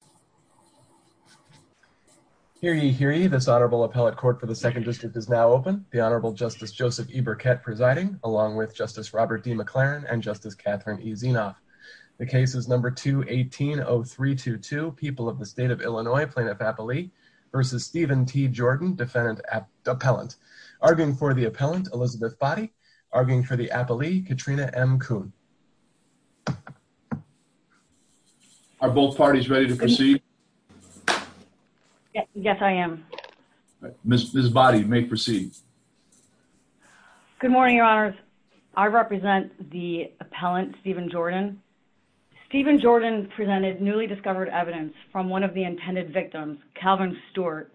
Jordan, Elizabeth Boddy, Katrina M. Kuhn. Are both parties ready to proceed? Yes, I am. Ms. Boddy, you may proceed. Good morning, Your Honors. I represent the appellant, Steven Jordan. Steven Jordan presented newly discovered evidence from one of the intended victims, Calvin Stewart,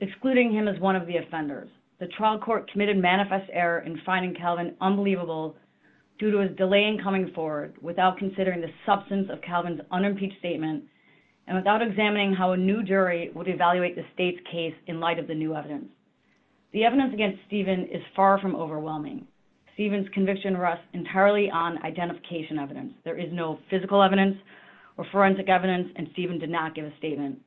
excluding him as one of the offenders. The trial court committed manifest error in finding Calvin unbelievable due to his delay in coming forward without considering the substance of Calvin's unimpeached statement and without examining how a new jury would evaluate the state's case in light of the new evidence. The evidence against Steven is far from overwhelming. Steven's conviction rests entirely on identification evidence. There is no physical evidence or forensic evidence, and Steven did not give a statement.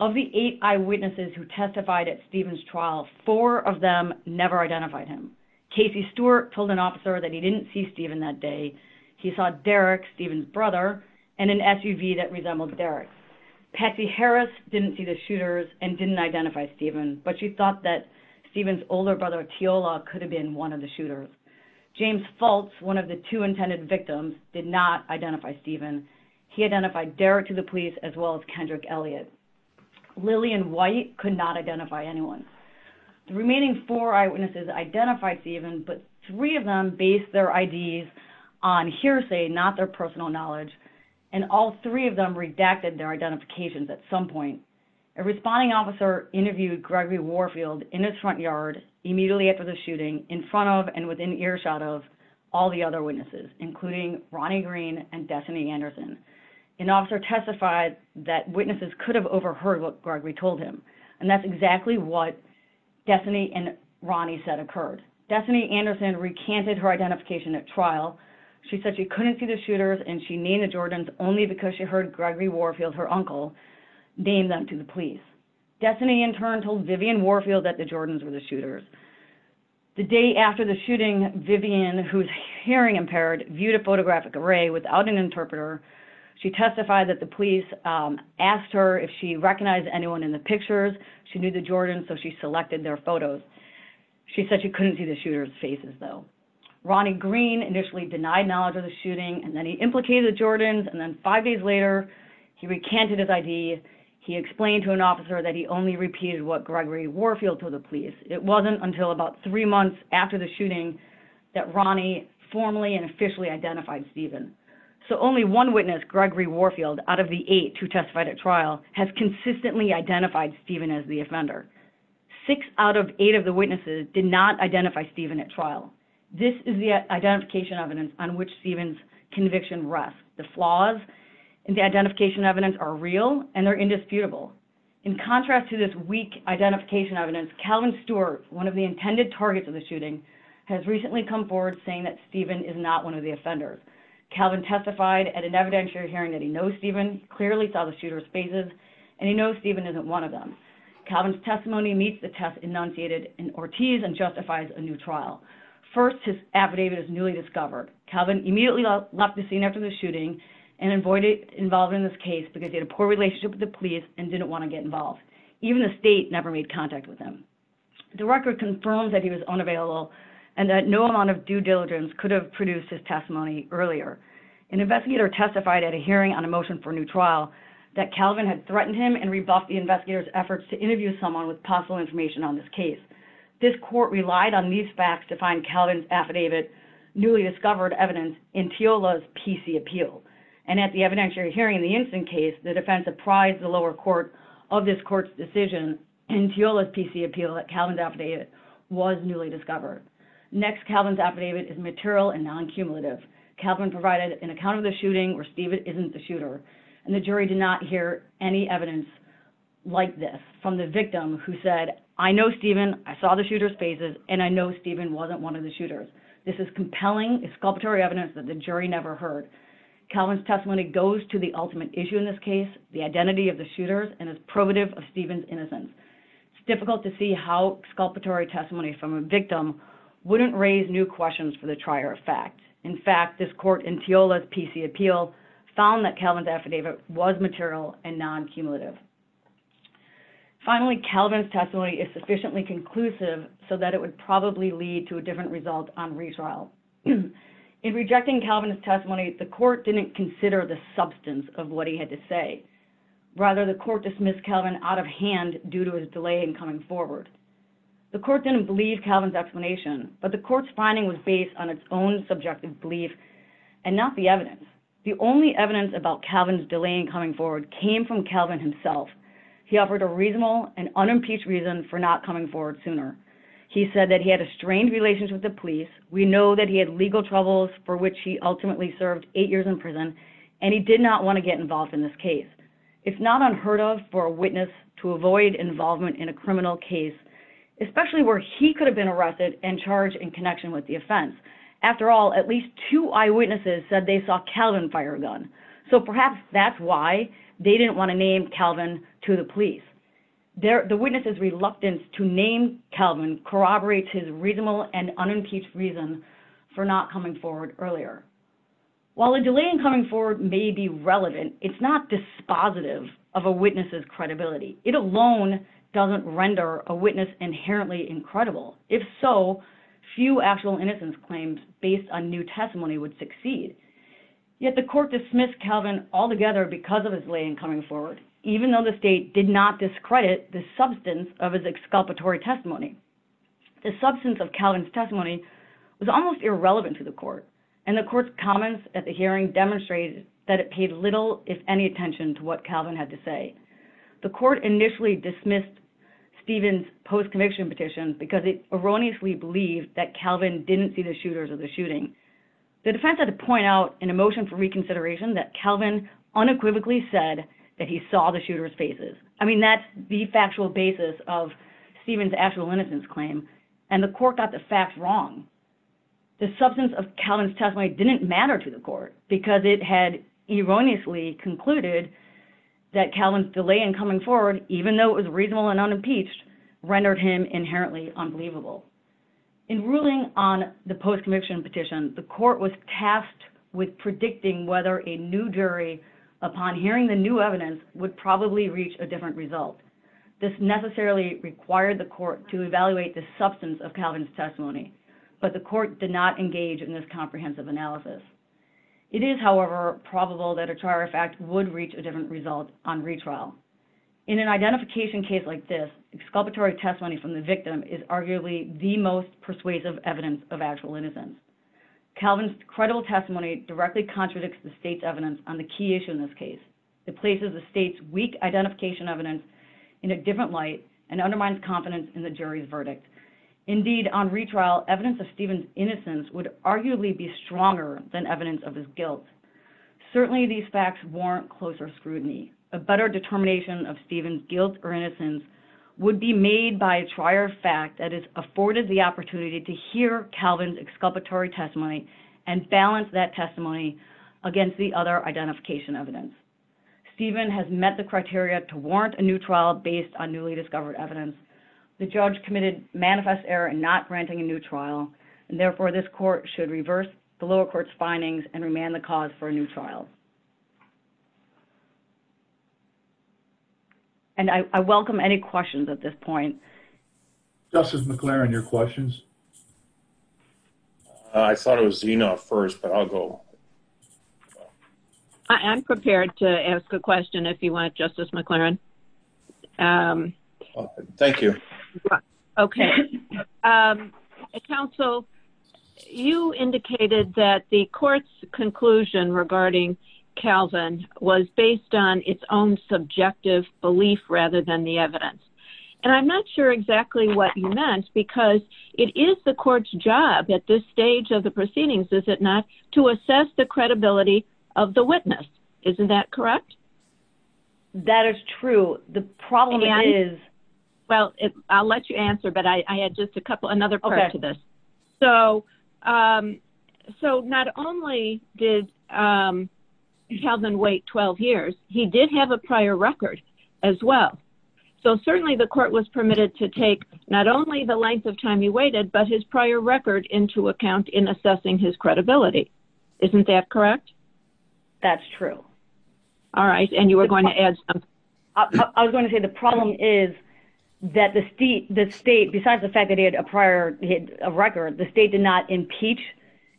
Of the eight eyewitnesses who testified at Steven's trial, four of them never identified him. Casey Stewart told an officer that he didn't see Steven that day. He saw Derek, Steven's brother, in an SUV that resembled Derek's. Patsy Harris didn't see the shooters and didn't identify Steven, but she thought that Steven's older brother, Teola, could have been one of the shooters. James Fultz, one of the two intended victims, did not identify Steven. He identified Derek to the police as well as Kendrick Elliott. Lillian White could not identify anyone. The remaining four eyewitnesses identified Steven, but three of them based their IDs on hearsay, not their personal knowledge, and all three of them redacted their identifications at some point. A responding officer interviewed Gregory Warfield in his front yard immediately after the shooting in front of and within earshot of all the other witnesses, including Ronnie Green and Destiny Anderson. An officer testified that witnesses could have overheard what Gregory told him, and that's exactly what Destiny and Ronnie said occurred. Destiny Anderson recanted her identification at trial. She said she couldn't see the shooters and she named the Jordans only because she heard Gregory Warfield, her uncle, name them to the police. Destiny in turn told Vivian Warfield that the Jordans were the shooters. The day after the shooting, Vivian, who's hearing impaired, viewed a photographic array without an interpreter. She testified that the police asked her if she recognized anyone in the pictures. She knew the Jordans, so she selected their photos. She said she couldn't see the shooters' faces, though. Ronnie Green initially denied knowledge of the shooting, and then he implicated the Jordans, and then five days later, he recanted his ID. He explained to an officer that he only repeated what Gregory Warfield told the police. It wasn't until about three months after the shooting that Ronnie formally and officially identified Steven. So only one witness, Gregory Warfield, out of the eight who testified at trial, has consistently identified Steven as the offender. Six out of eight of the witnesses did not identify Steven at trial. This is the identification evidence on which Steven's conviction rests. The flaws in the identification evidence are real and they're indisputable. In contrast to this weak identification evidence, Calvin Stewart, one of the intended targets of the shooting, has recently come forward saying that Steven is not one of the offenders. Calvin testified at an evidentiary hearing that he knows Steven, clearly saw the shooters' faces, and he knows Steven isn't one of them. Calvin's testimony meets the test enunciated in Ortiz and justifies a new trial. First, his affidavit is newly discovered. Calvin immediately left the scene after the shooting and avoided involving in this case because he had a poor relationship with the police and didn't want to get involved. Even the state never made contact with him. The record confirms that he was unavailable and that no amount of due diligence could have produced his testimony earlier. An investigator testified at a hearing on a motion for a new trial that Calvin had threatened him and rebuffed the investigator's efforts to interview someone with possible information on this case. This court relied on these facts to find Calvin's affidavit's newly discovered evidence in Teola's PC appeal. At the evidentiary hearing in the instant case, the defense apprised the lower court of this court's decision in Teola's PC appeal that Calvin's affidavit was newly discovered. Next, Calvin's affidavit is material and non-cumulative. Calvin provided an account of the shooting where Steven isn't the shooter. The jury did not hear any evidence like this from the victim who said, I know Steven, I saw the shooters' faces, and I know Steven wasn't one of the shooters. This is compelling, exculpatory evidence that the jury never heard. Calvin's testimony goes to the ultimate issue in this case, the identity of the shooters, and is probative of Steven's innocence. It's difficult to see how exculpatory testimony from a victim wouldn't raise new questions for the trier of fact. In fact, this court in Teola's PC appeal found that Calvin's affidavit was material and non-cumulative. Finally, Calvin's testimony is sufficiently conclusive so that it would probably lead to a different result on retrial. In rejecting Calvin's testimony, the court didn't consider the substance of what he had to say. Rather, the court dismissed Calvin out of hand due to his delay in coming forward. The court didn't believe Calvin's explanation, but the court's finding was based on its own subjective belief and not the evidence. The only evidence about Calvin's delay in coming forward came from Calvin himself. He offered a reasonable and unimpeached reason for not coming forward sooner. He said that he had a strained relationship with the police, we know that he had legal troubles for which he ultimately served eight years in prison, and he did not want to get involved in this case. It's not unheard of for a witness to avoid involvement in a criminal case, especially where he could have been arrested and charged in connection with the offense. After all, at least two eyewitnesses said they saw Calvin fire a gun. So perhaps that's why they didn't want to name Calvin to the police. The witness's reluctance to name Calvin corroborates his reasonable and unimpeached reason for not coming forward earlier. While a delay in coming forward may be relevant, it's not dispositive of a witness's credibility. It alone doesn't render a witness inherently incredible. If so, few actual innocence claims based on new testimony would succeed. Yet the court dismissed Calvin altogether because of his delay in coming forward, even though the state did not discredit the substance of his exculpatory testimony. The substance of Calvin's testimony was almost irrelevant to the court, and the court's comments at the hearing demonstrated that it paid little, if any, attention to what Calvin had to say. The court initially dismissed Stephen's post-conviction petition because it erroneously believed that Calvin didn't see the shooters or the shooting. The defense had to point out in a motion for reconsideration that Calvin unequivocally said that he saw the shooters' faces. I mean, that's the factual basis of Stephen's actual innocence claim, and the court got the fact wrong. The substance of Calvin's testimony didn't matter to the court because it had erroneously concluded that Calvin's delay in coming forward, even though it was reasonable and unimpeached, rendered him inherently unbelievable. In ruling on the post-conviction petition, the court was tasked with predicting whether a new jury, upon hearing the new evidence, would probably reach a different result. This necessarily required the court to evaluate the substance of Calvin's testimony, but the court did not engage in this comprehensive analysis. It is, however, probable that a trial refact would reach a different result on retrial. In an identification case like this, exculpatory testimony from the victim is arguably the most persuasive evidence of actual innocence. Calvin's credible testimony directly contradicts the state's evidence on the key issue in this case. It places the state's weak identification evidence in a different light and undermines confidence in the jury's verdict. Indeed, on retrial, evidence of Stephen's innocence would arguably be stronger than evidence of his guilt. Certainly, these facts warrant closer scrutiny. A better determination of Stephen's guilt or innocence would be made by a trier fact that has afforded the opportunity to hear Calvin's exculpatory testimony and balance that testimony against the other identification evidence. Stephen has met the criteria to warrant a new trial based on newly discovered evidence. The judge committed manifest error in not granting a new trial, and therefore this court should reverse the lower court's findings and remand the cause for a new trial. And I welcome any questions at this point. Justice McLaren, your questions? I thought it was Zena first, but I'll go. I'm prepared to ask a question if you want, Justice McLaren. Thank you. Okay. Counsel, you indicated that the court's conclusion regarding Calvin was based on its own subjective belief rather than the evidence. And I'm not sure exactly what you meant, because it is the court's job at this stage of the proceedings, is it not, to assess the credibility of the witness. Isn't that correct? That is true. Well, I'll let you answer, but I add just another part to this. So not only did Calvin wait 12 years, he did have a prior record as well. So certainly the court was permitted to take not only the length of time he waited, but his prior record into account in assessing his credibility. Isn't that correct? That's true. All right. And you were going to add something? I was going to say the problem is that the state, besides the fact that he had a prior record, the state did not impeach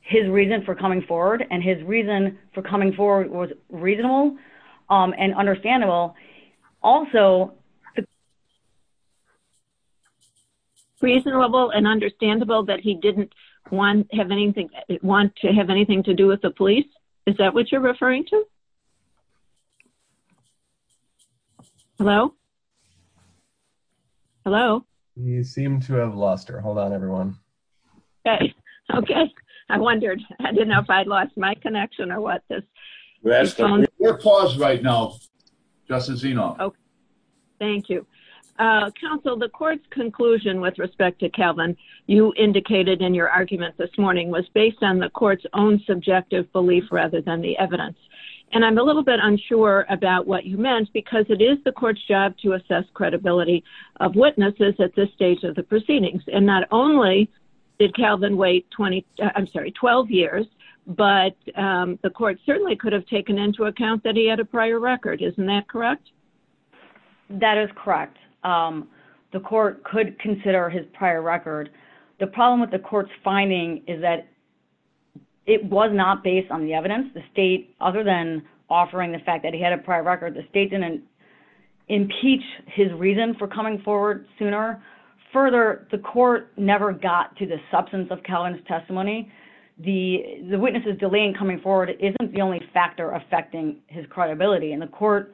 his reason for coming forward. And his reason for coming forward was reasonable and understandable. Also, reasonable and understandable that he didn't want to have anything to do with the police. Is that what you're referring to? Hello? Hello? You seem to have lost her. Hold on, everyone. Okay. I wondered. I didn't know if I'd lost my connection or what. We're paused right now, Justice Zenoff. Thank you. Counsel, the court's conclusion with respect to Calvin, you indicated in your argument this morning, was based on the court's own subjective belief rather than the evidence. And I'm a little bit unsure about what you meant, because it is the court's job to assess credibility of witnesses at this stage of the proceedings. And not only did Calvin wait 12 years, but the court certainly could have taken into account that he had a prior record. Isn't that correct? That is correct. The court could consider his prior record. The problem with the court's finding is that it was not based on the evidence. The state, other than offering the fact that he had a prior record, the state didn't impeach his reason for coming forward sooner. Further, the court never got to the substance of Calvin's testimony. The witnesses delaying coming forward isn't the only factor affecting his credibility. And the court,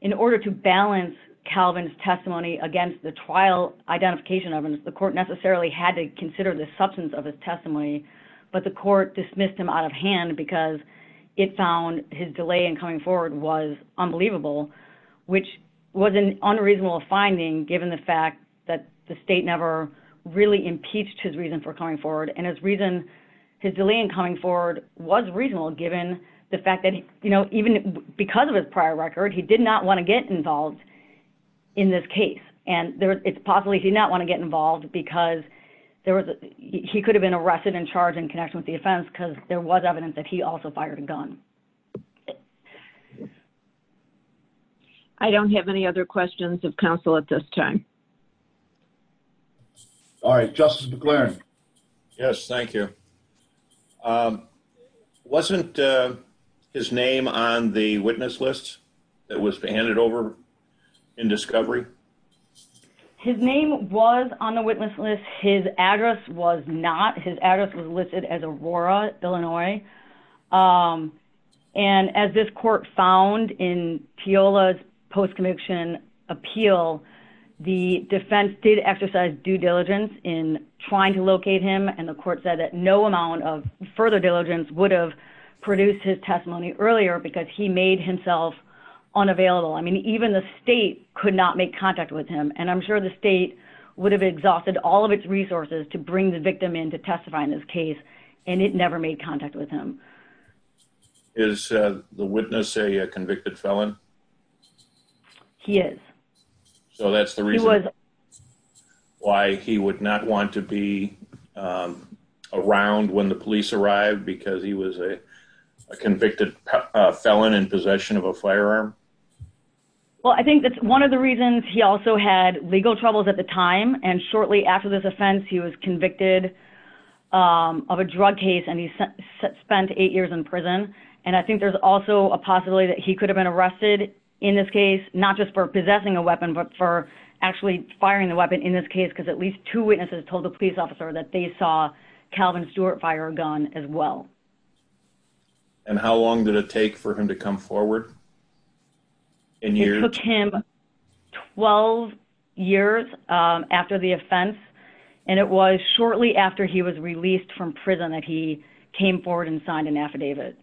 in order to balance Calvin's testimony against the trial identification evidence, the court necessarily had to consider the substance of his testimony. But the court dismissed him out of hand because it found his delay in coming forward was unbelievable, which was an unreasonable finding, given the fact that the state never really impeached his reason for coming forward. And his delay in coming forward was reasonable, given the fact that even because of his prior record, he did not want to get involved in this case. And it's possible he did not want to get involved because he could have been arrested and charged in connection with the offense because there was evidence that he also fired a gun. I don't have any other questions of counsel at this time. All right. Justice McClaren. Yes, thank you. Wasn't his name on the witness list that was handed over in discovery? His name was on the witness list. His address was not. His address was listed as Aurora, Illinois. And as this court found in Teola's post-conviction appeal, the defense did exercise due diligence in trying to locate him, and the court said that no amount of further diligence would have produced his testimony earlier because he made himself unavailable. I mean, even the state could not make contact with him, and I'm sure the state would have exhausted all of its resources to bring the victim in to testify in this case, and it never made contact with him. Is the witness a convicted felon? He is. So that's the reason why he would not want to be around when the police arrived, because he was a convicted felon in possession of a firearm? Well, I think that's one of the reasons he also had legal troubles at the time, and shortly after this offense he was convicted of a drug case, and he spent eight years in prison. And I think there's also a possibility that he could have been arrested in this case, not just for possessing a weapon but for actually firing the weapon in this case because at least two witnesses told the police officer that they saw Calvin Stewart fire a gun as well. And how long did it take for him to come forward? It took him 12 years after the offense, and it was shortly after he was released from prison that he came forward and signed an affidavit.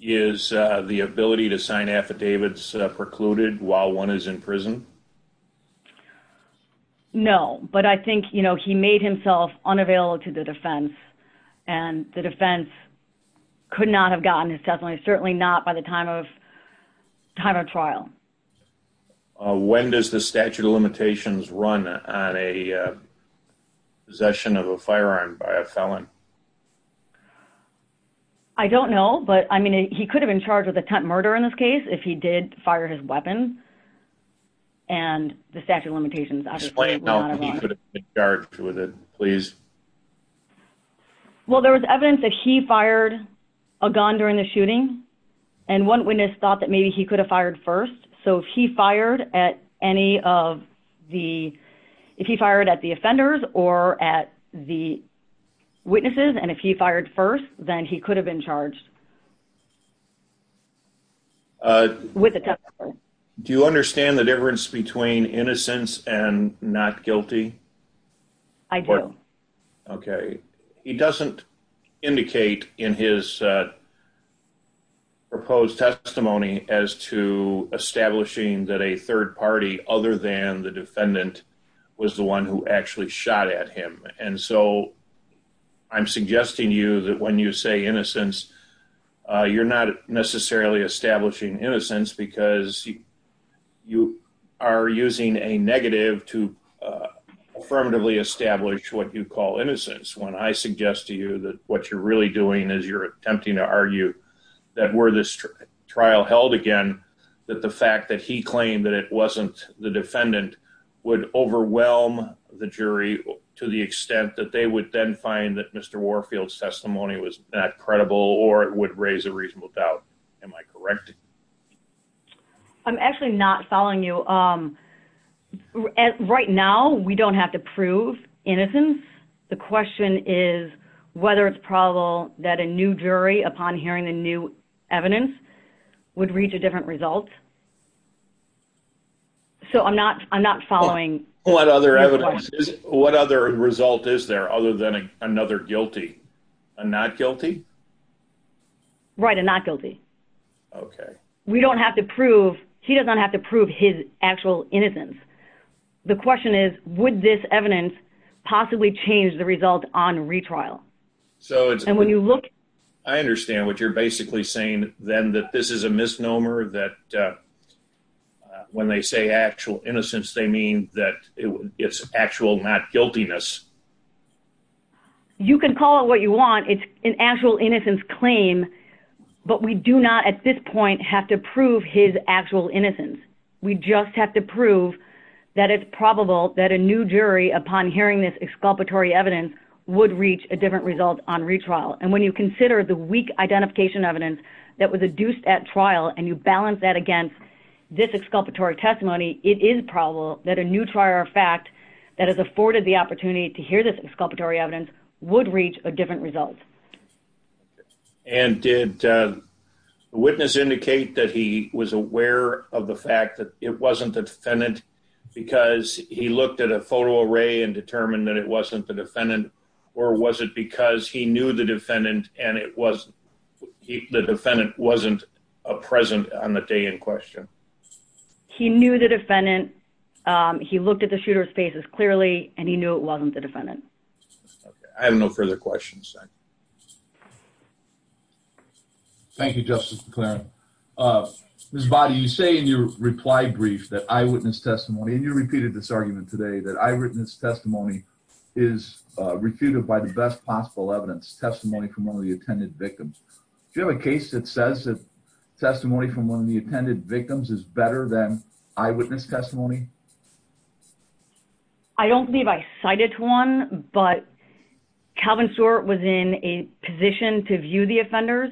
Is the ability to sign affidavits precluded while one is in prison? No, but I think he made himself unavailable to the defense, and the defense could not have gotten his testimony, certainly not by the time of trial. When does the statute of limitations run on a possession of a firearm by a felon? I don't know, but he could have been charged with attempt murder in this case if he did fire his weapon, and the statute of limitations, I would say, run on a gun. Explain how he could have been charged with it, please. Well, there was evidence that he fired a gun during the shooting, and one witness thought that maybe he could have fired first. So if he fired at the offenders or at the witnesses, and if he fired first, then he could have been charged with attempt murder. Do you understand the difference between innocence and not guilty? I do. Okay. He doesn't indicate in his proposed testimony as to establishing that a third party, other than the defendant, was the one who actually shot at him. And so I'm suggesting to you that when you say innocence, you're not necessarily establishing innocence because you are using a negative to affirmatively establish what you call innocence. When I suggest to you that what you're really doing is you're attempting to argue that were this trial held again, that the fact that he claimed that it wasn't the defendant would overwhelm the jury to the extent that they would then find that Mr. Warfield's testimony was not credible or it would raise a reasonable doubt. Am I correct? I'm actually not following you. Right now, we don't have to prove innocence. The question is whether it's probable that a new jury, upon hearing the new evidence, would reach a different result. So I'm not following. What other result is there other than another guilty? A not guilty? Right, a not guilty. Okay. We don't have to prove, he does not have to prove his actual innocence. The question is, would this evidence possibly change the result on retrial? I understand what you're basically saying, then, that this is a misnomer that when they say actual innocence, they mean that it's actual not guiltiness. You can call it what you want. It's an actual innocence claim. But we do not, at this point, have to prove his actual innocence. We just have to prove that it's probable that a new jury, upon hearing this exculpatory evidence, would reach a different result on retrial. And when you consider the weak identification evidence that was adduced at trial and you balance that against this exculpatory testimony, it is probable that a new trial of fact that has afforded the opportunity to hear this exculpatory evidence would reach a different result. And did the witness indicate that he was aware of the fact that it wasn't the defendant because he looked at a photo array and determined that it wasn't the defendant, or was it because he knew the defendant and the defendant wasn't present on the day in question? He knew the defendant. He looked at the shooter's faces clearly, and he knew it wasn't the defendant. I have no further questions. Thank you, Justice McLaren. Ms. Boddy, you say in your reply brief that eyewitness testimony, and you repeated this argument today, that eyewitness testimony is refuted by the best possible evidence, testimony from one of the attended victims. Do you have a case that says that testimony from one of the attended victims is better than eyewitness testimony? I don't believe I cited one, but Calvin Stewart was in a position to view the offenders.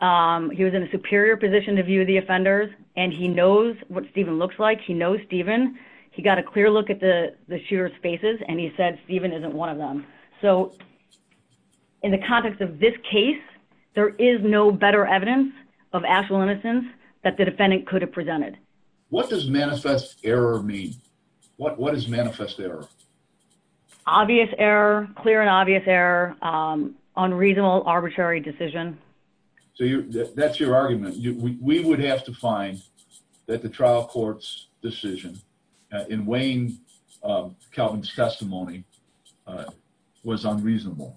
He was in a superior position to view the offenders, and he knows what Stephen looks like. He knows Stephen. He got a clear look at the shooter's faces, and he said Stephen isn't one of them. So in the context of this case, there is no better evidence of actual innocence that the defendant could have presented. What does manifest error mean? What is manifest error? Obvious error, clear and obvious error, unreasonable, arbitrary decision. So that's your argument. We would have to find that the trial court's decision in weighing Calvin's testimony was unreasonable.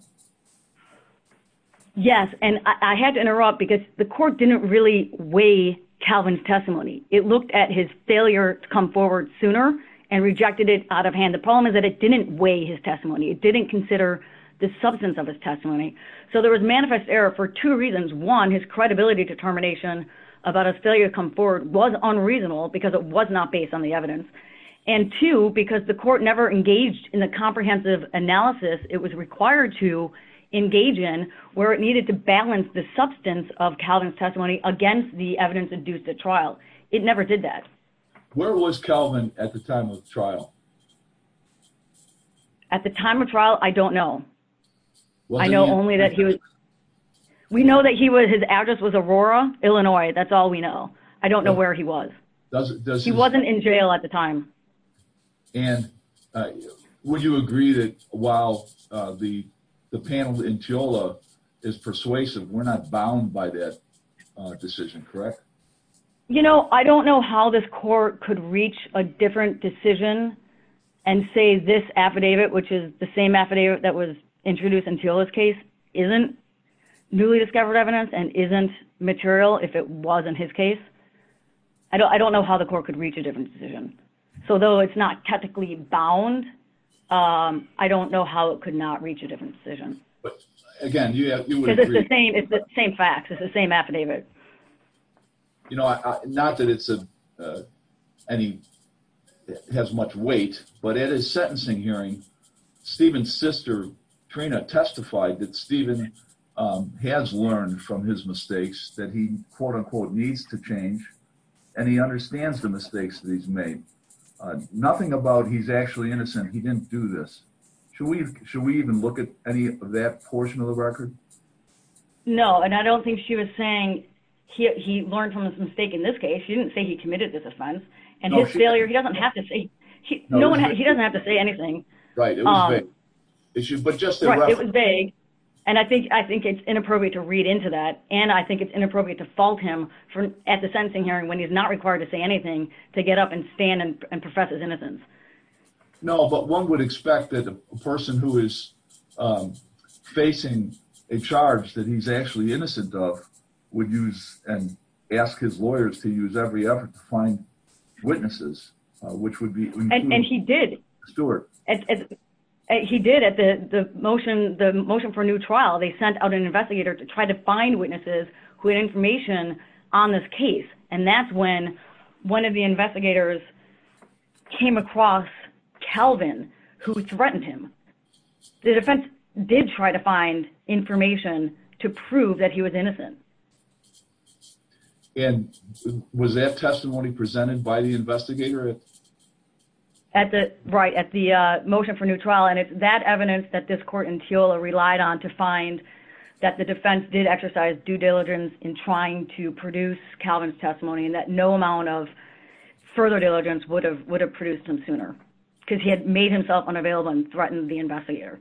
Yes, and I had to interrupt because the court didn't really weigh Calvin's testimony. It looked at his failure to come forward sooner and rejected it out of hand. The problem is that it didn't weigh his testimony. It didn't consider the substance of his testimony. So there was manifest error for two reasons. One, his credibility determination about his failure to come forward was unreasonable because it was not based on the evidence. And two, because the court never engaged in the comprehensive analysis it was required to engage in where it needed to balance the substance of Calvin's testimony against the evidence induced at trial. It never did that. Where was Calvin at the time of the trial? At the time of the trial, I don't know. I know only that he was... We know that his address was Aurora, Illinois. That's all we know. I don't know where he was. He wasn't in jail at the time. And would you agree that while the panel in Teola is persuasive, we're not bound by that decision, correct? You know, I don't know how this court could reach a different decision and say this affidavit, which is the same affidavit that was introduced in Teola's case, isn't newly discovered evidence and isn't material if it was in his case. I don't know how the court could reach a different decision. So, though it's not technically bound, I don't know how it could not reach a different decision. But, again, you would agree... Because it's the same facts. It's the same affidavit. You know, not that it has much weight, but at his sentencing hearing, Stephen's sister, Trina, testified that Stephen has learned from his mistakes that he, quote-unquote, needs to change, and he understands the mistakes that he's made. Nothing about he's actually innocent. He didn't do this. Should we even look at any of that portion of the record? No, and I don't think she was saying he learned from his mistake in this case. She didn't say he committed this offense. And his failure, he doesn't have to say anything. Right, it was vague. Right, it was vague, and I think it's inappropriate to read into that, and I think it's inappropriate to fault him at the sentencing hearing when he's not required to say anything to get up and stand and profess his innocence. No, but one would expect that a person who is facing a charge that he's actually innocent of would use and ask his lawyers to use every effort to find witnesses, which would be... And he did. Stuart. He did at the motion for a new trial. They sent out an investigator to try to find witnesses who had information on this case, and that's when one of the investigators came across Calvin, who threatened him. The defense did try to find information to prove that he was innocent. And was that testimony presented by the investigator? Right, at the motion for a new trial, and it's that evidence that this court in Teola relied on to find that the defense did exercise due diligence in trying to produce Calvin's testimony and that no amount of further diligence would have produced him sooner because he had made himself unavailable and threatened the investigator.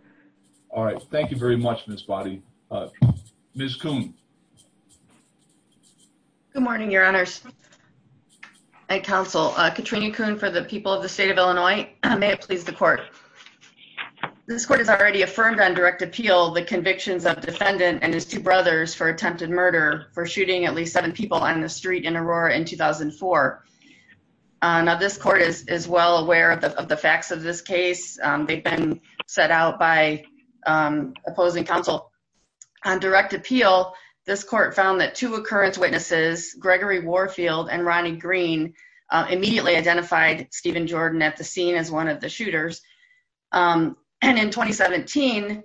All right. Thank you very much, Ms. Boddy. Ms. Coon. Good morning, Your Honors. Thank you, Counsel. Katrina Coon for the people of the state of Illinois. May it please the court. This court has already affirmed on direct appeal the convictions of defendant and his two brothers for attempted murder for shooting at least seven people on the street in Aurora in 2004. Now, this court is well aware of the facts of this case. They've been set out by opposing counsel. On direct appeal, this court found that two occurrence witnesses, Gregory Warfield and Ronnie Green, immediately identified Stephen Jordan at the scene as one of the shooters. And in 2017,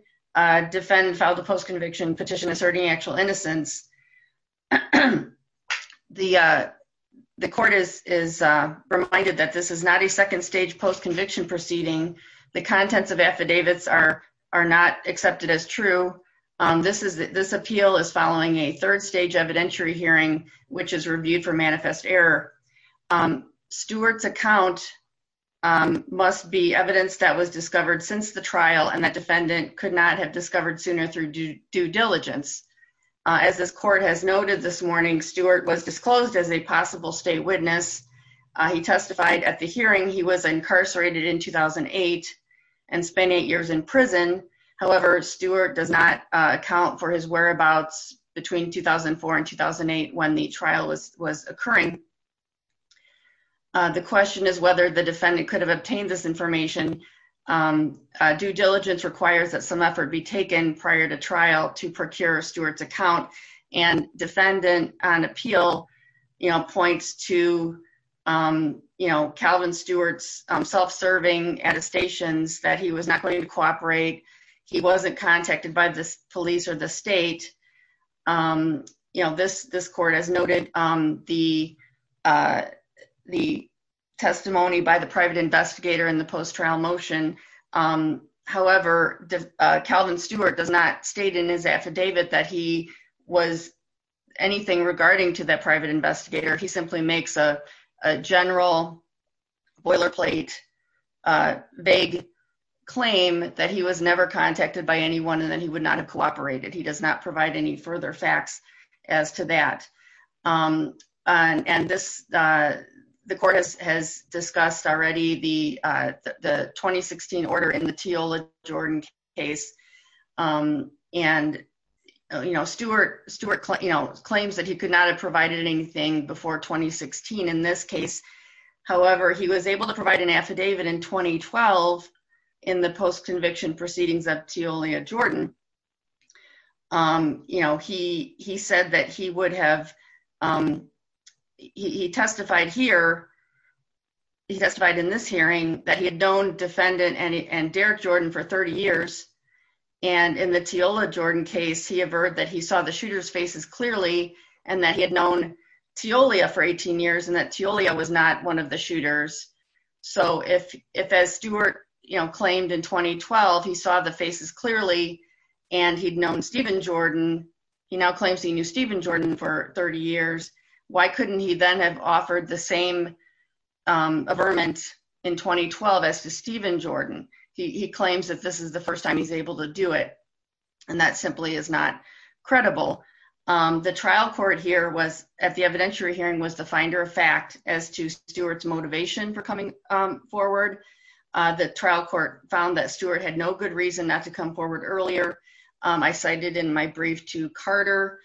defendant filed a post-conviction petition asserting actual innocence. The court is reminded that this is not a second stage post-conviction proceeding. The contents of affidavits are not accepted as true. This appeal is following a third stage evidentiary hearing, which is reviewed for manifest error. Stewart's account must be evidence that was discovered since the trial and that defendant could not have discovered sooner through due diligence. As this court has noted this morning, Stewart was disclosed as a possible state witness. He testified at the hearing he was incarcerated in 2008 and spent eight years in prison. However, Stewart does not account for his whereabouts between 2004 and 2008 when the trial was occurring. The question is whether the defendant could have obtained this information. Due diligence requires that some effort be taken prior to trial to procure Stewart's account. And defendant on appeal points to Calvin Stewart's self-serving attestations that he was not going to cooperate. He wasn't contacted by the police or the state. This court has noted the testimony by the private investigator in the post-trial motion. However, Calvin Stewart does not state in his affidavit that he was anything regarding to that private investigator. He simply makes a general boilerplate vague claim that he was never contacted by anyone and that he would not have cooperated. He does not provide any further facts as to that. And this, the court has discussed already the 2016 order in the Teola Jordan case. And, you know, Stewart claims that he could not have provided anything before 2016 in this case. However, he was able to provide an affidavit in 2012 in the post-conviction proceedings of Teola Jordan. You know, he said that he would have, he testified here, he testified in this hearing that he had known defendant and Derek Jordan for 30 years. And in the Teola Jordan case, he averred that he saw the shooter's faces clearly and that he had known Teolia for 18 years and that Teolia was not one of the shooters. So if as Stewart, you know, claimed in 2012, he saw the faces clearly and he'd known Stephen Jordan, he now claims he knew Stephen Jordan for 30 years. Why couldn't he then have offered the same averments in 2012 as to Stephen Jordan? He claims that this is the first time he's able to do it. And that simply is not credible. The trial court here was at the evidentiary hearing was the finder of fact as to Stewart's motivation for coming forward. The trial court found that Stewart had no good reason not to come forward earlier. I cited in my brief to Carter,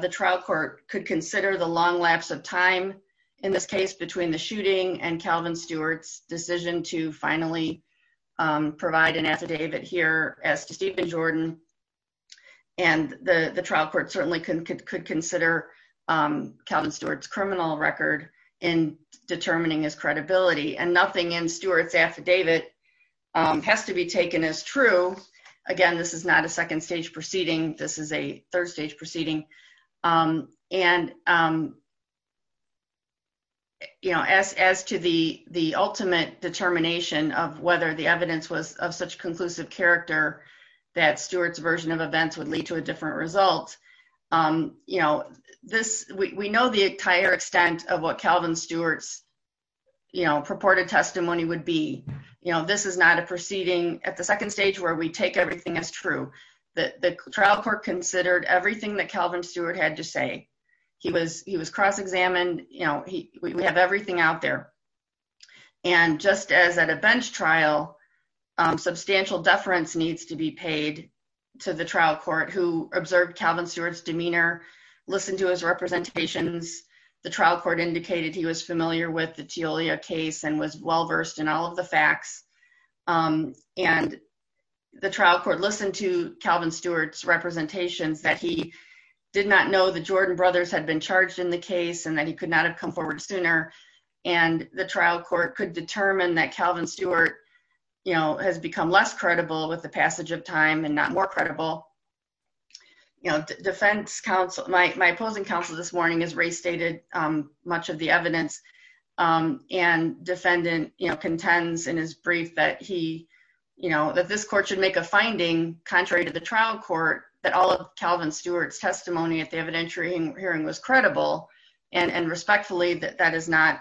the trial court could consider the long lapse of time in this case between the shooting and Calvin Stewart's decision to finally provide an affidavit here as to Stephen Jordan. And the trial court certainly could consider Calvin Stewart's criminal record in determining his credibility. And nothing in Stewart's affidavit has to be taken as true. Again, this is not a second stage proceeding. This is a third stage proceeding. And, you know, as as to the the ultimate determination of whether the evidence was of such conclusive character, that Stewart's version of events would lead to a different result. You know, this we know the entire extent of what Calvin Stewart's, you know, purported testimony would be. You know, this is not a proceeding at the second stage where we take everything as true. The trial court considered everything that Calvin Stewart had to say. He was he was cross-examined. You know, we have everything out there. And just as at a bench trial, substantial deference needs to be paid to the trial court who observed Calvin Stewart's demeanor. Listen to his representations. The trial court indicated he was familiar with the Teolia case and was well versed in all of the facts. And the trial court listened to Calvin Stewart's representations that he did not know the Jordan brothers had been charged in the case and that he could not have come forward sooner. And the trial court could determine that Calvin Stewart, you know, has become less credible with the passage of time and not more credible. You know, defense counsel, my opposing counsel this morning has restated much of the evidence and defendant contends in his brief that he, you know, that this court should make a finding contrary to the trial court that all of Calvin Stewart's testimony at the evidentiary hearing was credible. And respectfully, that is not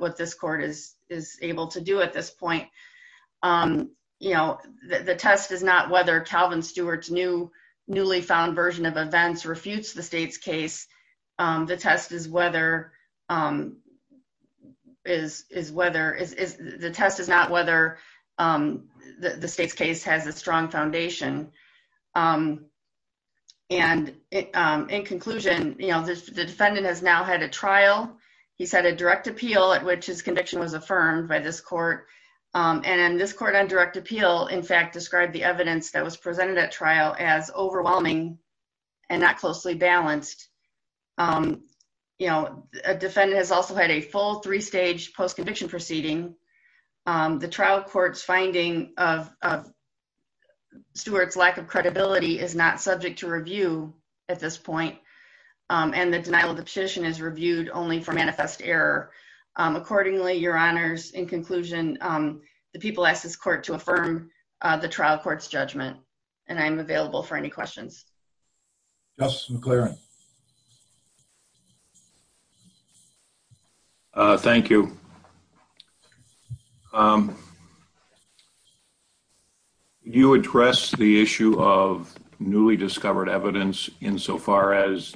what this court is is able to do at this point. You know, the test is not whether Calvin Stewart's new newly found version of events refutes the state's case. The test is whether the test is not whether the state's case has a strong foundation. And in conclusion, you know, the defendant has now had a trial. He said a direct appeal at which his conviction was affirmed by this court. And this court on direct appeal, in fact, described the evidence that was presented at trial as overwhelming and not closely balanced. You know, a defendant has also had a full three stage post conviction proceeding. The trial court's finding of Stewart's lack of credibility is not subject to review at this point. And the denial of the petition is reviewed only for manifest error. Accordingly, your honors, in conclusion, the people ask this court to affirm the trial court's judgment. And I'm available for any questions. Just McLaren. Thank you. You address the issue of newly discovered evidence insofar as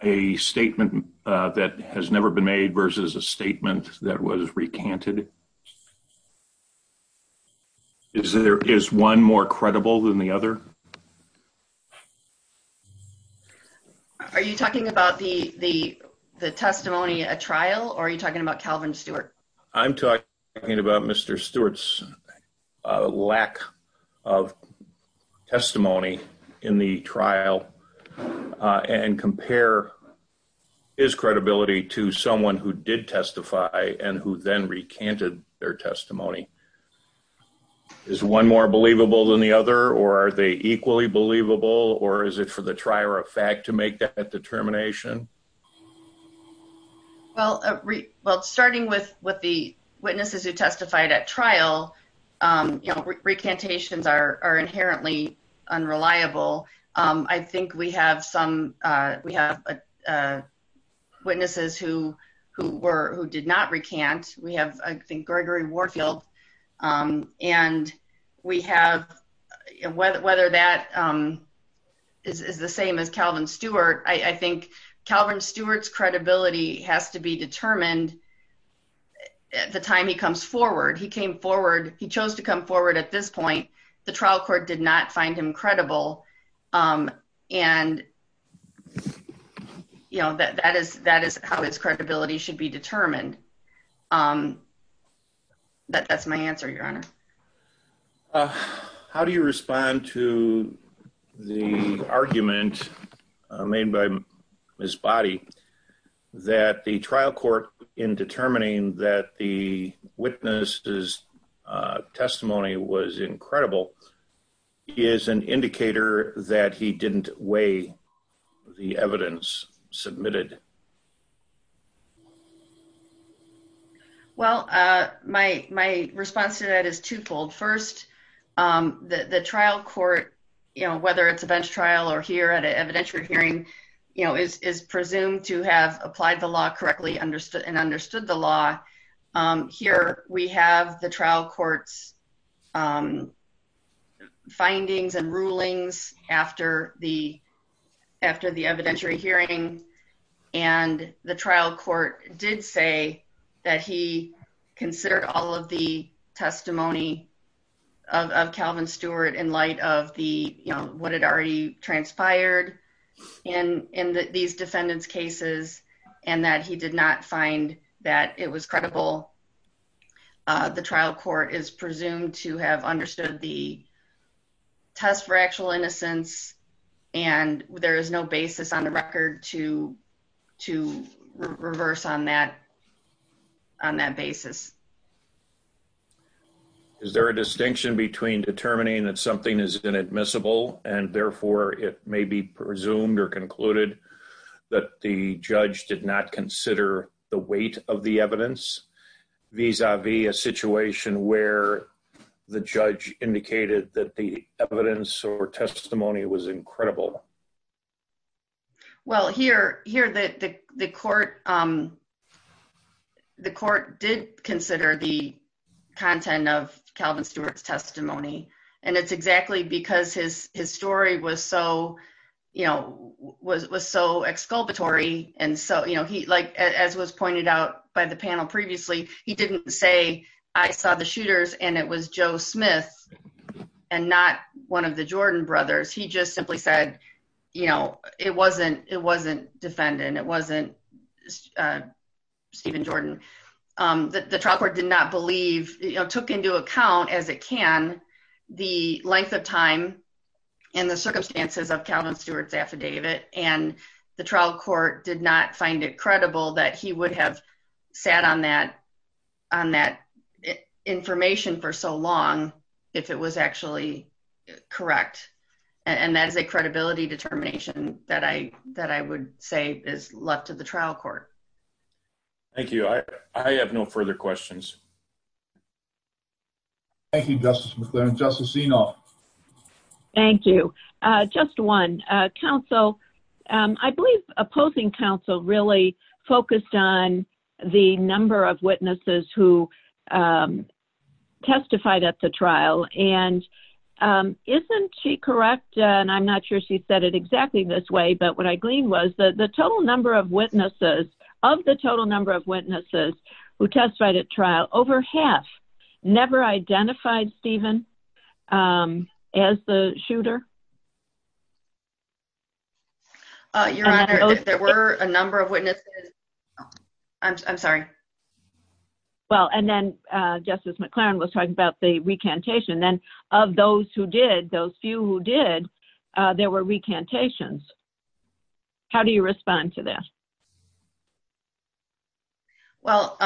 a statement that has never been made versus a statement that was recanted. Is there is one more credible than the other. Are you talking about the the the testimony at trial or are you talking about Calvin Stewart? I'm talking about Mr. Stewart's lack of testimony in the trial and compare his credibility to someone who did testify and who then recanted their testimony. Is one more believable than the other or are they equally believable or is it for the trier of fact to make that determination? Well, well, starting with what the witnesses who testified at trial recantations are inherently unreliable. I think we have some we have witnesses who who were who did not recant. We have I think Gregory Warfield and we have whether whether that is the same as Calvin Stewart. I think Calvin Stewart's credibility has to be determined at the time he comes forward. He came forward. He chose to come forward at this point. The trial court did not find him credible. And, you know, that that is that is how his credibility should be determined. That's my answer, Your Honor. How do you respond to the argument made by his body that the trial court in determining that the witnesses testimony was incredible is an indicator that he didn't weigh the evidence submitted? Well, my my response to that is twofold. First, the trial court, you know, whether it's a bench trial or here at an evidentiary hearing, you know, is is presumed to have applied the law correctly understood and understood the law. Here we have the trial court's findings and rulings after the after the evidentiary hearing. And the trial court did say that he considered all of the testimony of Calvin Stewart in light of the you know what had already transpired in in these defendants cases and that he did not find that it was credible. The trial court is presumed to have understood the test for actual innocence and there is no basis on the record to to reverse on that on that basis. Is there a distinction between determining that something is inadmissible and therefore it may be presumed or concluded that the judge did not consider the weight of the evidence vis-a-vis a situation where the judge indicated that the evidence or testimony was incredible? Well, here, here that the court. The court did consider the content of Calvin Stewart's testimony. And it's exactly because his his story was so, you know, was so exculpatory. And so, you know, he like as was pointed out by the panel. Previously, he didn't say I saw the shooters and it was Joe Smith. And not one of the Jordan brothers. He just simply said, you know, it wasn't it wasn't defendant. It wasn't Stephen Jordan. The trial court did not believe took into account as it can the length of time in the circumstances of Calvin Stewart's affidavit and the trial court did not find it credible that he would have sat on that on that information for so long, if it was actually correct. And that is a credibility determination that I that I would say is left to the trial court. Thank you. I have no further questions. Thank you, Justice. Thank you, just one council. I believe opposing Council really focused on the number of witnesses who Testified at the trial and Correct. And I'm not sure she said it exactly this way. But what I gleaned was the total number of witnesses of the total number of witnesses who testified at trial over half never identified Stephen As the shooter. There were a number of witnesses. I'm sorry. Well, and then justice McLaren was talking about the recantation then of those who did those few who did there were recantations How do you respond to that. Well,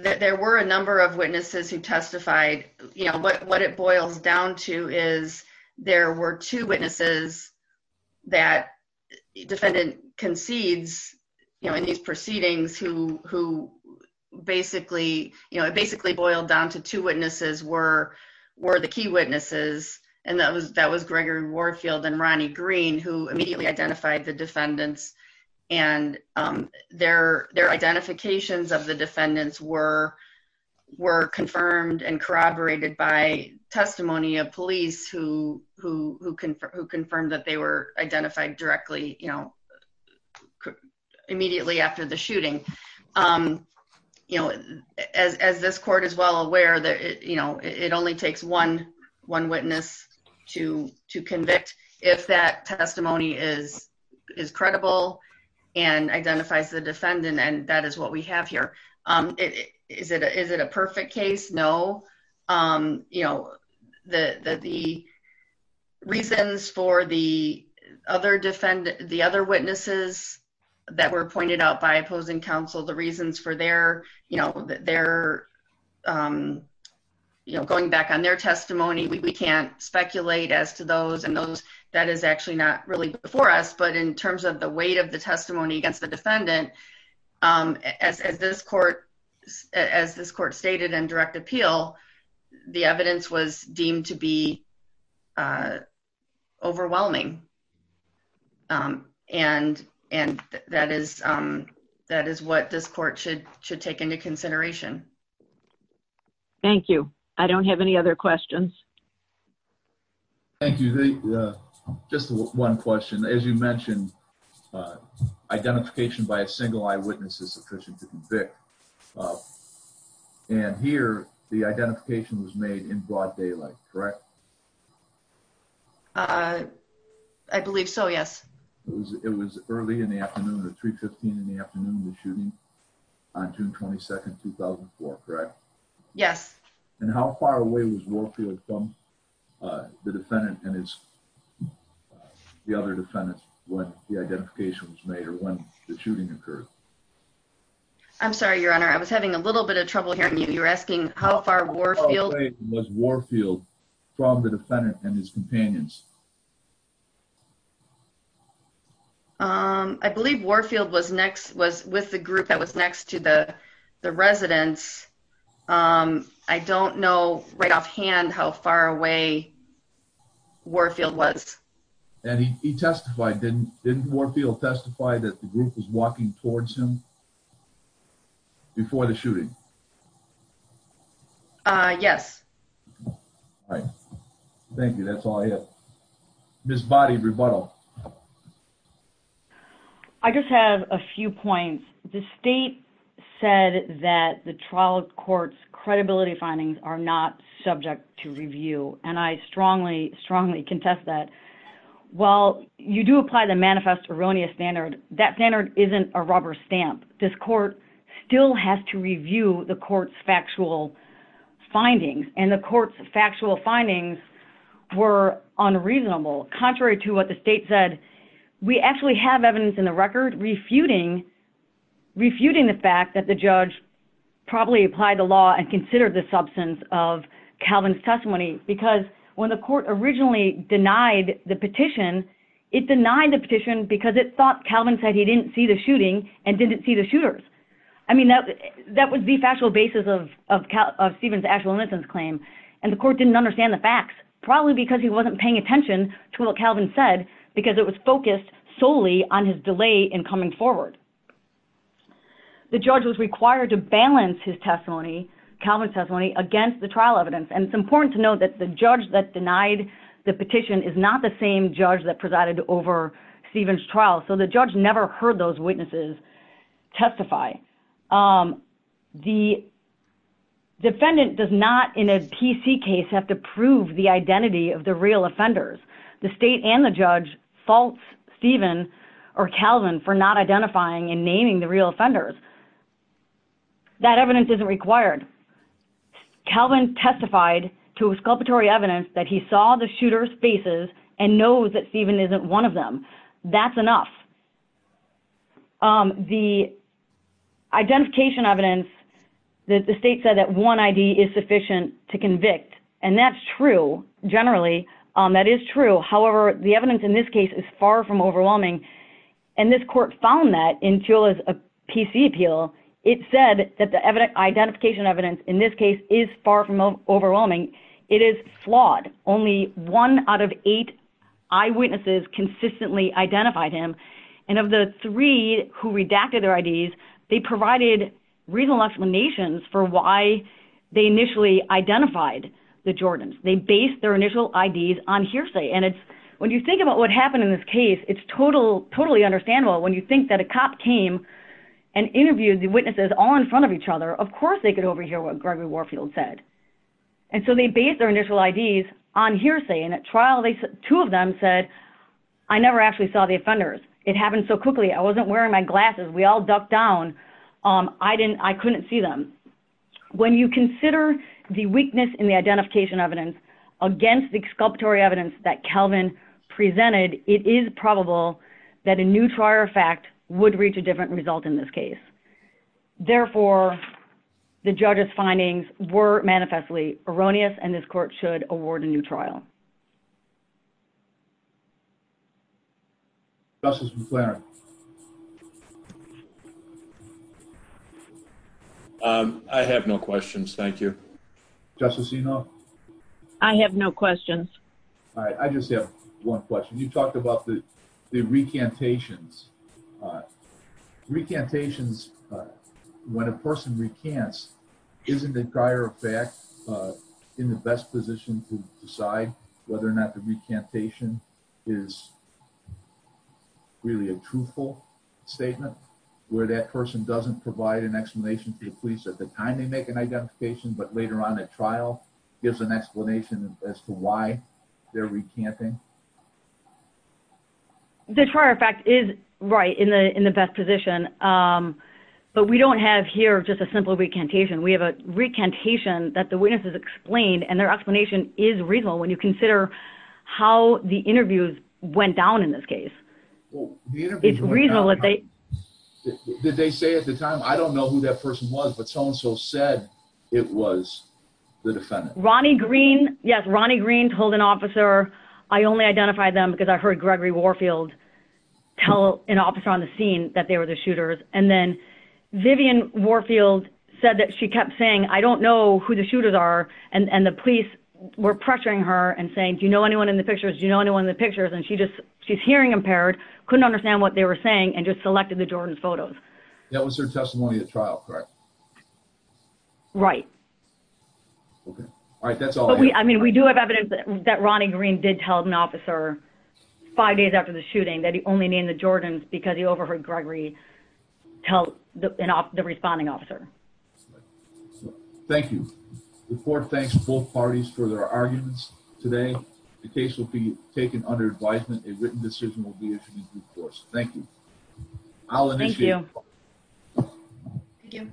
there were a number of witnesses who testified, you know what what it boils down to is there were two witnesses that Defendant concedes, you know, in these proceedings who who basically, you know, it basically boiled down to two witnesses were Were the key witnesses and that was that was Gregory Warfield and Ronnie green who immediately identified the defendants and their, their identifications of the defendants were were confirmed and corroborated by testimony of police who who can confirm that they were identified directly, you know, Immediately after the shooting. You know, as, as this court as well aware that it, you know, it only takes one one witness to to convict if that testimony is is credible and identifies the defendant and that is what we have here. Is it, is it a perfect case. No. Um, you know, the, the, the reasons for the other defend the other witnesses that were pointed out by opposing counsel, the reasons for their, you know, their You know, going back on their testimony. We can't speculate as to those and those that is actually not really before us. But in terms of the weight of the testimony against the defendant. As this court as this court stated and direct appeal. The evidence was deemed to be Overwhelming And and that is that is what this court should should take into consideration. Thank you. I don't have any other questions. Thank you. Just one question. As you mentioned, Identification by a single eyewitness is sufficient to convict. And here the identification was made in broad daylight. Correct. I believe so. Yes. It was early in the afternoon or 315 in the afternoon, the shooting on June 22 2004 correct Yes. And how far away was working with them. The defendant and it's The other defendants when the identification was made or when the shooting occurred. I'm sorry, Your Honor. I was having a little bit of trouble hearing you. You're asking how far Was Warfield from the defendant and his companions. Um, I believe Warfield was next was with the group that was next to the residents. Um, I don't know right off hand how far away Warfield was And he testified didn't didn't Warfield testify that the group was walking towards him. Before the shooting. Yes. Right. Thank you. That's all I have. Miss body rebuttal. I just have a few points. The state said that the trial courts credibility findings are not subject to review and I strongly, strongly contest that Well, you do apply the manifest erroneous standard that standard isn't a rubber stamp this court still has to review the courts factual Findings and the courts factual findings were unreasonable. Contrary to what the state said we actually have evidence in the record refuting Refuting the fact that the judge probably apply the law and consider the substance of Calvin's testimony because when the court originally denied the petition. It denied the petition because it thought Calvin said he didn't see the shooting and didn't see the shooters. I mean that that would be factual basis of Steven's actual innocence claim and the court didn't understand the facts, probably because he wasn't paying attention to what Calvin said because it was focused solely on his delay in coming forward. The judge was required to balance his testimony Calvin testimony against the trial evidence and it's important to note that the judge that denied the petition is not the same judge that presided over Stevens trial. So the judge never heard those witnesses testify. The Defendant does not in a PC case have to prove the identity of the real offenders, the state and the judge faults Stephen or Calvin for not identifying and naming the real offenders. That evidence isn't required. Calvin testified to a sculpted Tory evidence that he saw the shooter spaces and knows that Stephen isn't one of them. That's enough. The Identification evidence that the state said that one ID is sufficient to convict and that's true. Generally, that is true. However, the evidence in this case is far from overwhelming And this court found that until as a PC appeal. It said that the evidence identification evidence in this case is far from overwhelming. It is flawed only one out of eight Eyewitnesses consistently identified him and of the three who redacted their IDs. They provided reasonable explanations for why They initially identified the Jordans they base their initial IDs on hearsay and it's when you think about what happened in this case, it's total totally understandable when you think that a cop came And interviewed the witnesses all in front of each other. Of course, they could overhear what Gregory Warfield said And so they base their initial IDs on hearsay and at trial they two of them said I never actually saw the offenders. It happened so quickly. I wasn't wearing my glasses. We all ducked down. I didn't, I couldn't see them. When you consider the weakness in the identification evidence against the sculptor evidence that Calvin presented it is probable that a new trial fact would reach a different result in this case. Therefore, the judges findings were manifestly erroneous and this court should award a new trial. Justice McLaren. I have no questions. Thank you. Justice, you know, I have no questions. I just have one question. You talked about the the recantations Recantations when a person recants isn't the prior effect in the best position to decide whether or not the recantation is Really a truthful statement where that person doesn't provide an explanation to the police at the time they make an identification, but later on at trial gives an explanation as to why they're recanting The prior fact is right in the in the best position. But we don't have here just a simple recantation. We have a recantation that the witnesses explained and their explanation is reasonable when you consider how the interviews went down in this case. It's reasonable that they Did they say at the time. I don't know who that person was, but so and so said it was the defendant. Ronnie green. Yes. Ronnie green told an officer. I only identified them because I heard Gregory Warfield. Tell an officer on the scene that they were the shooters and then That was their testimony at trial. Correct. Right. Okay. All right. That's all. I mean, we do have evidence that that Ronnie green did tell an officer five days after the shooting that he only named the Jordans because he overheard Gregory tell the responding officer. Thank you for thanks both parties for their arguments today. The case will be taken under advisement. A written decision will be issued in due course. Thank you. Thank you.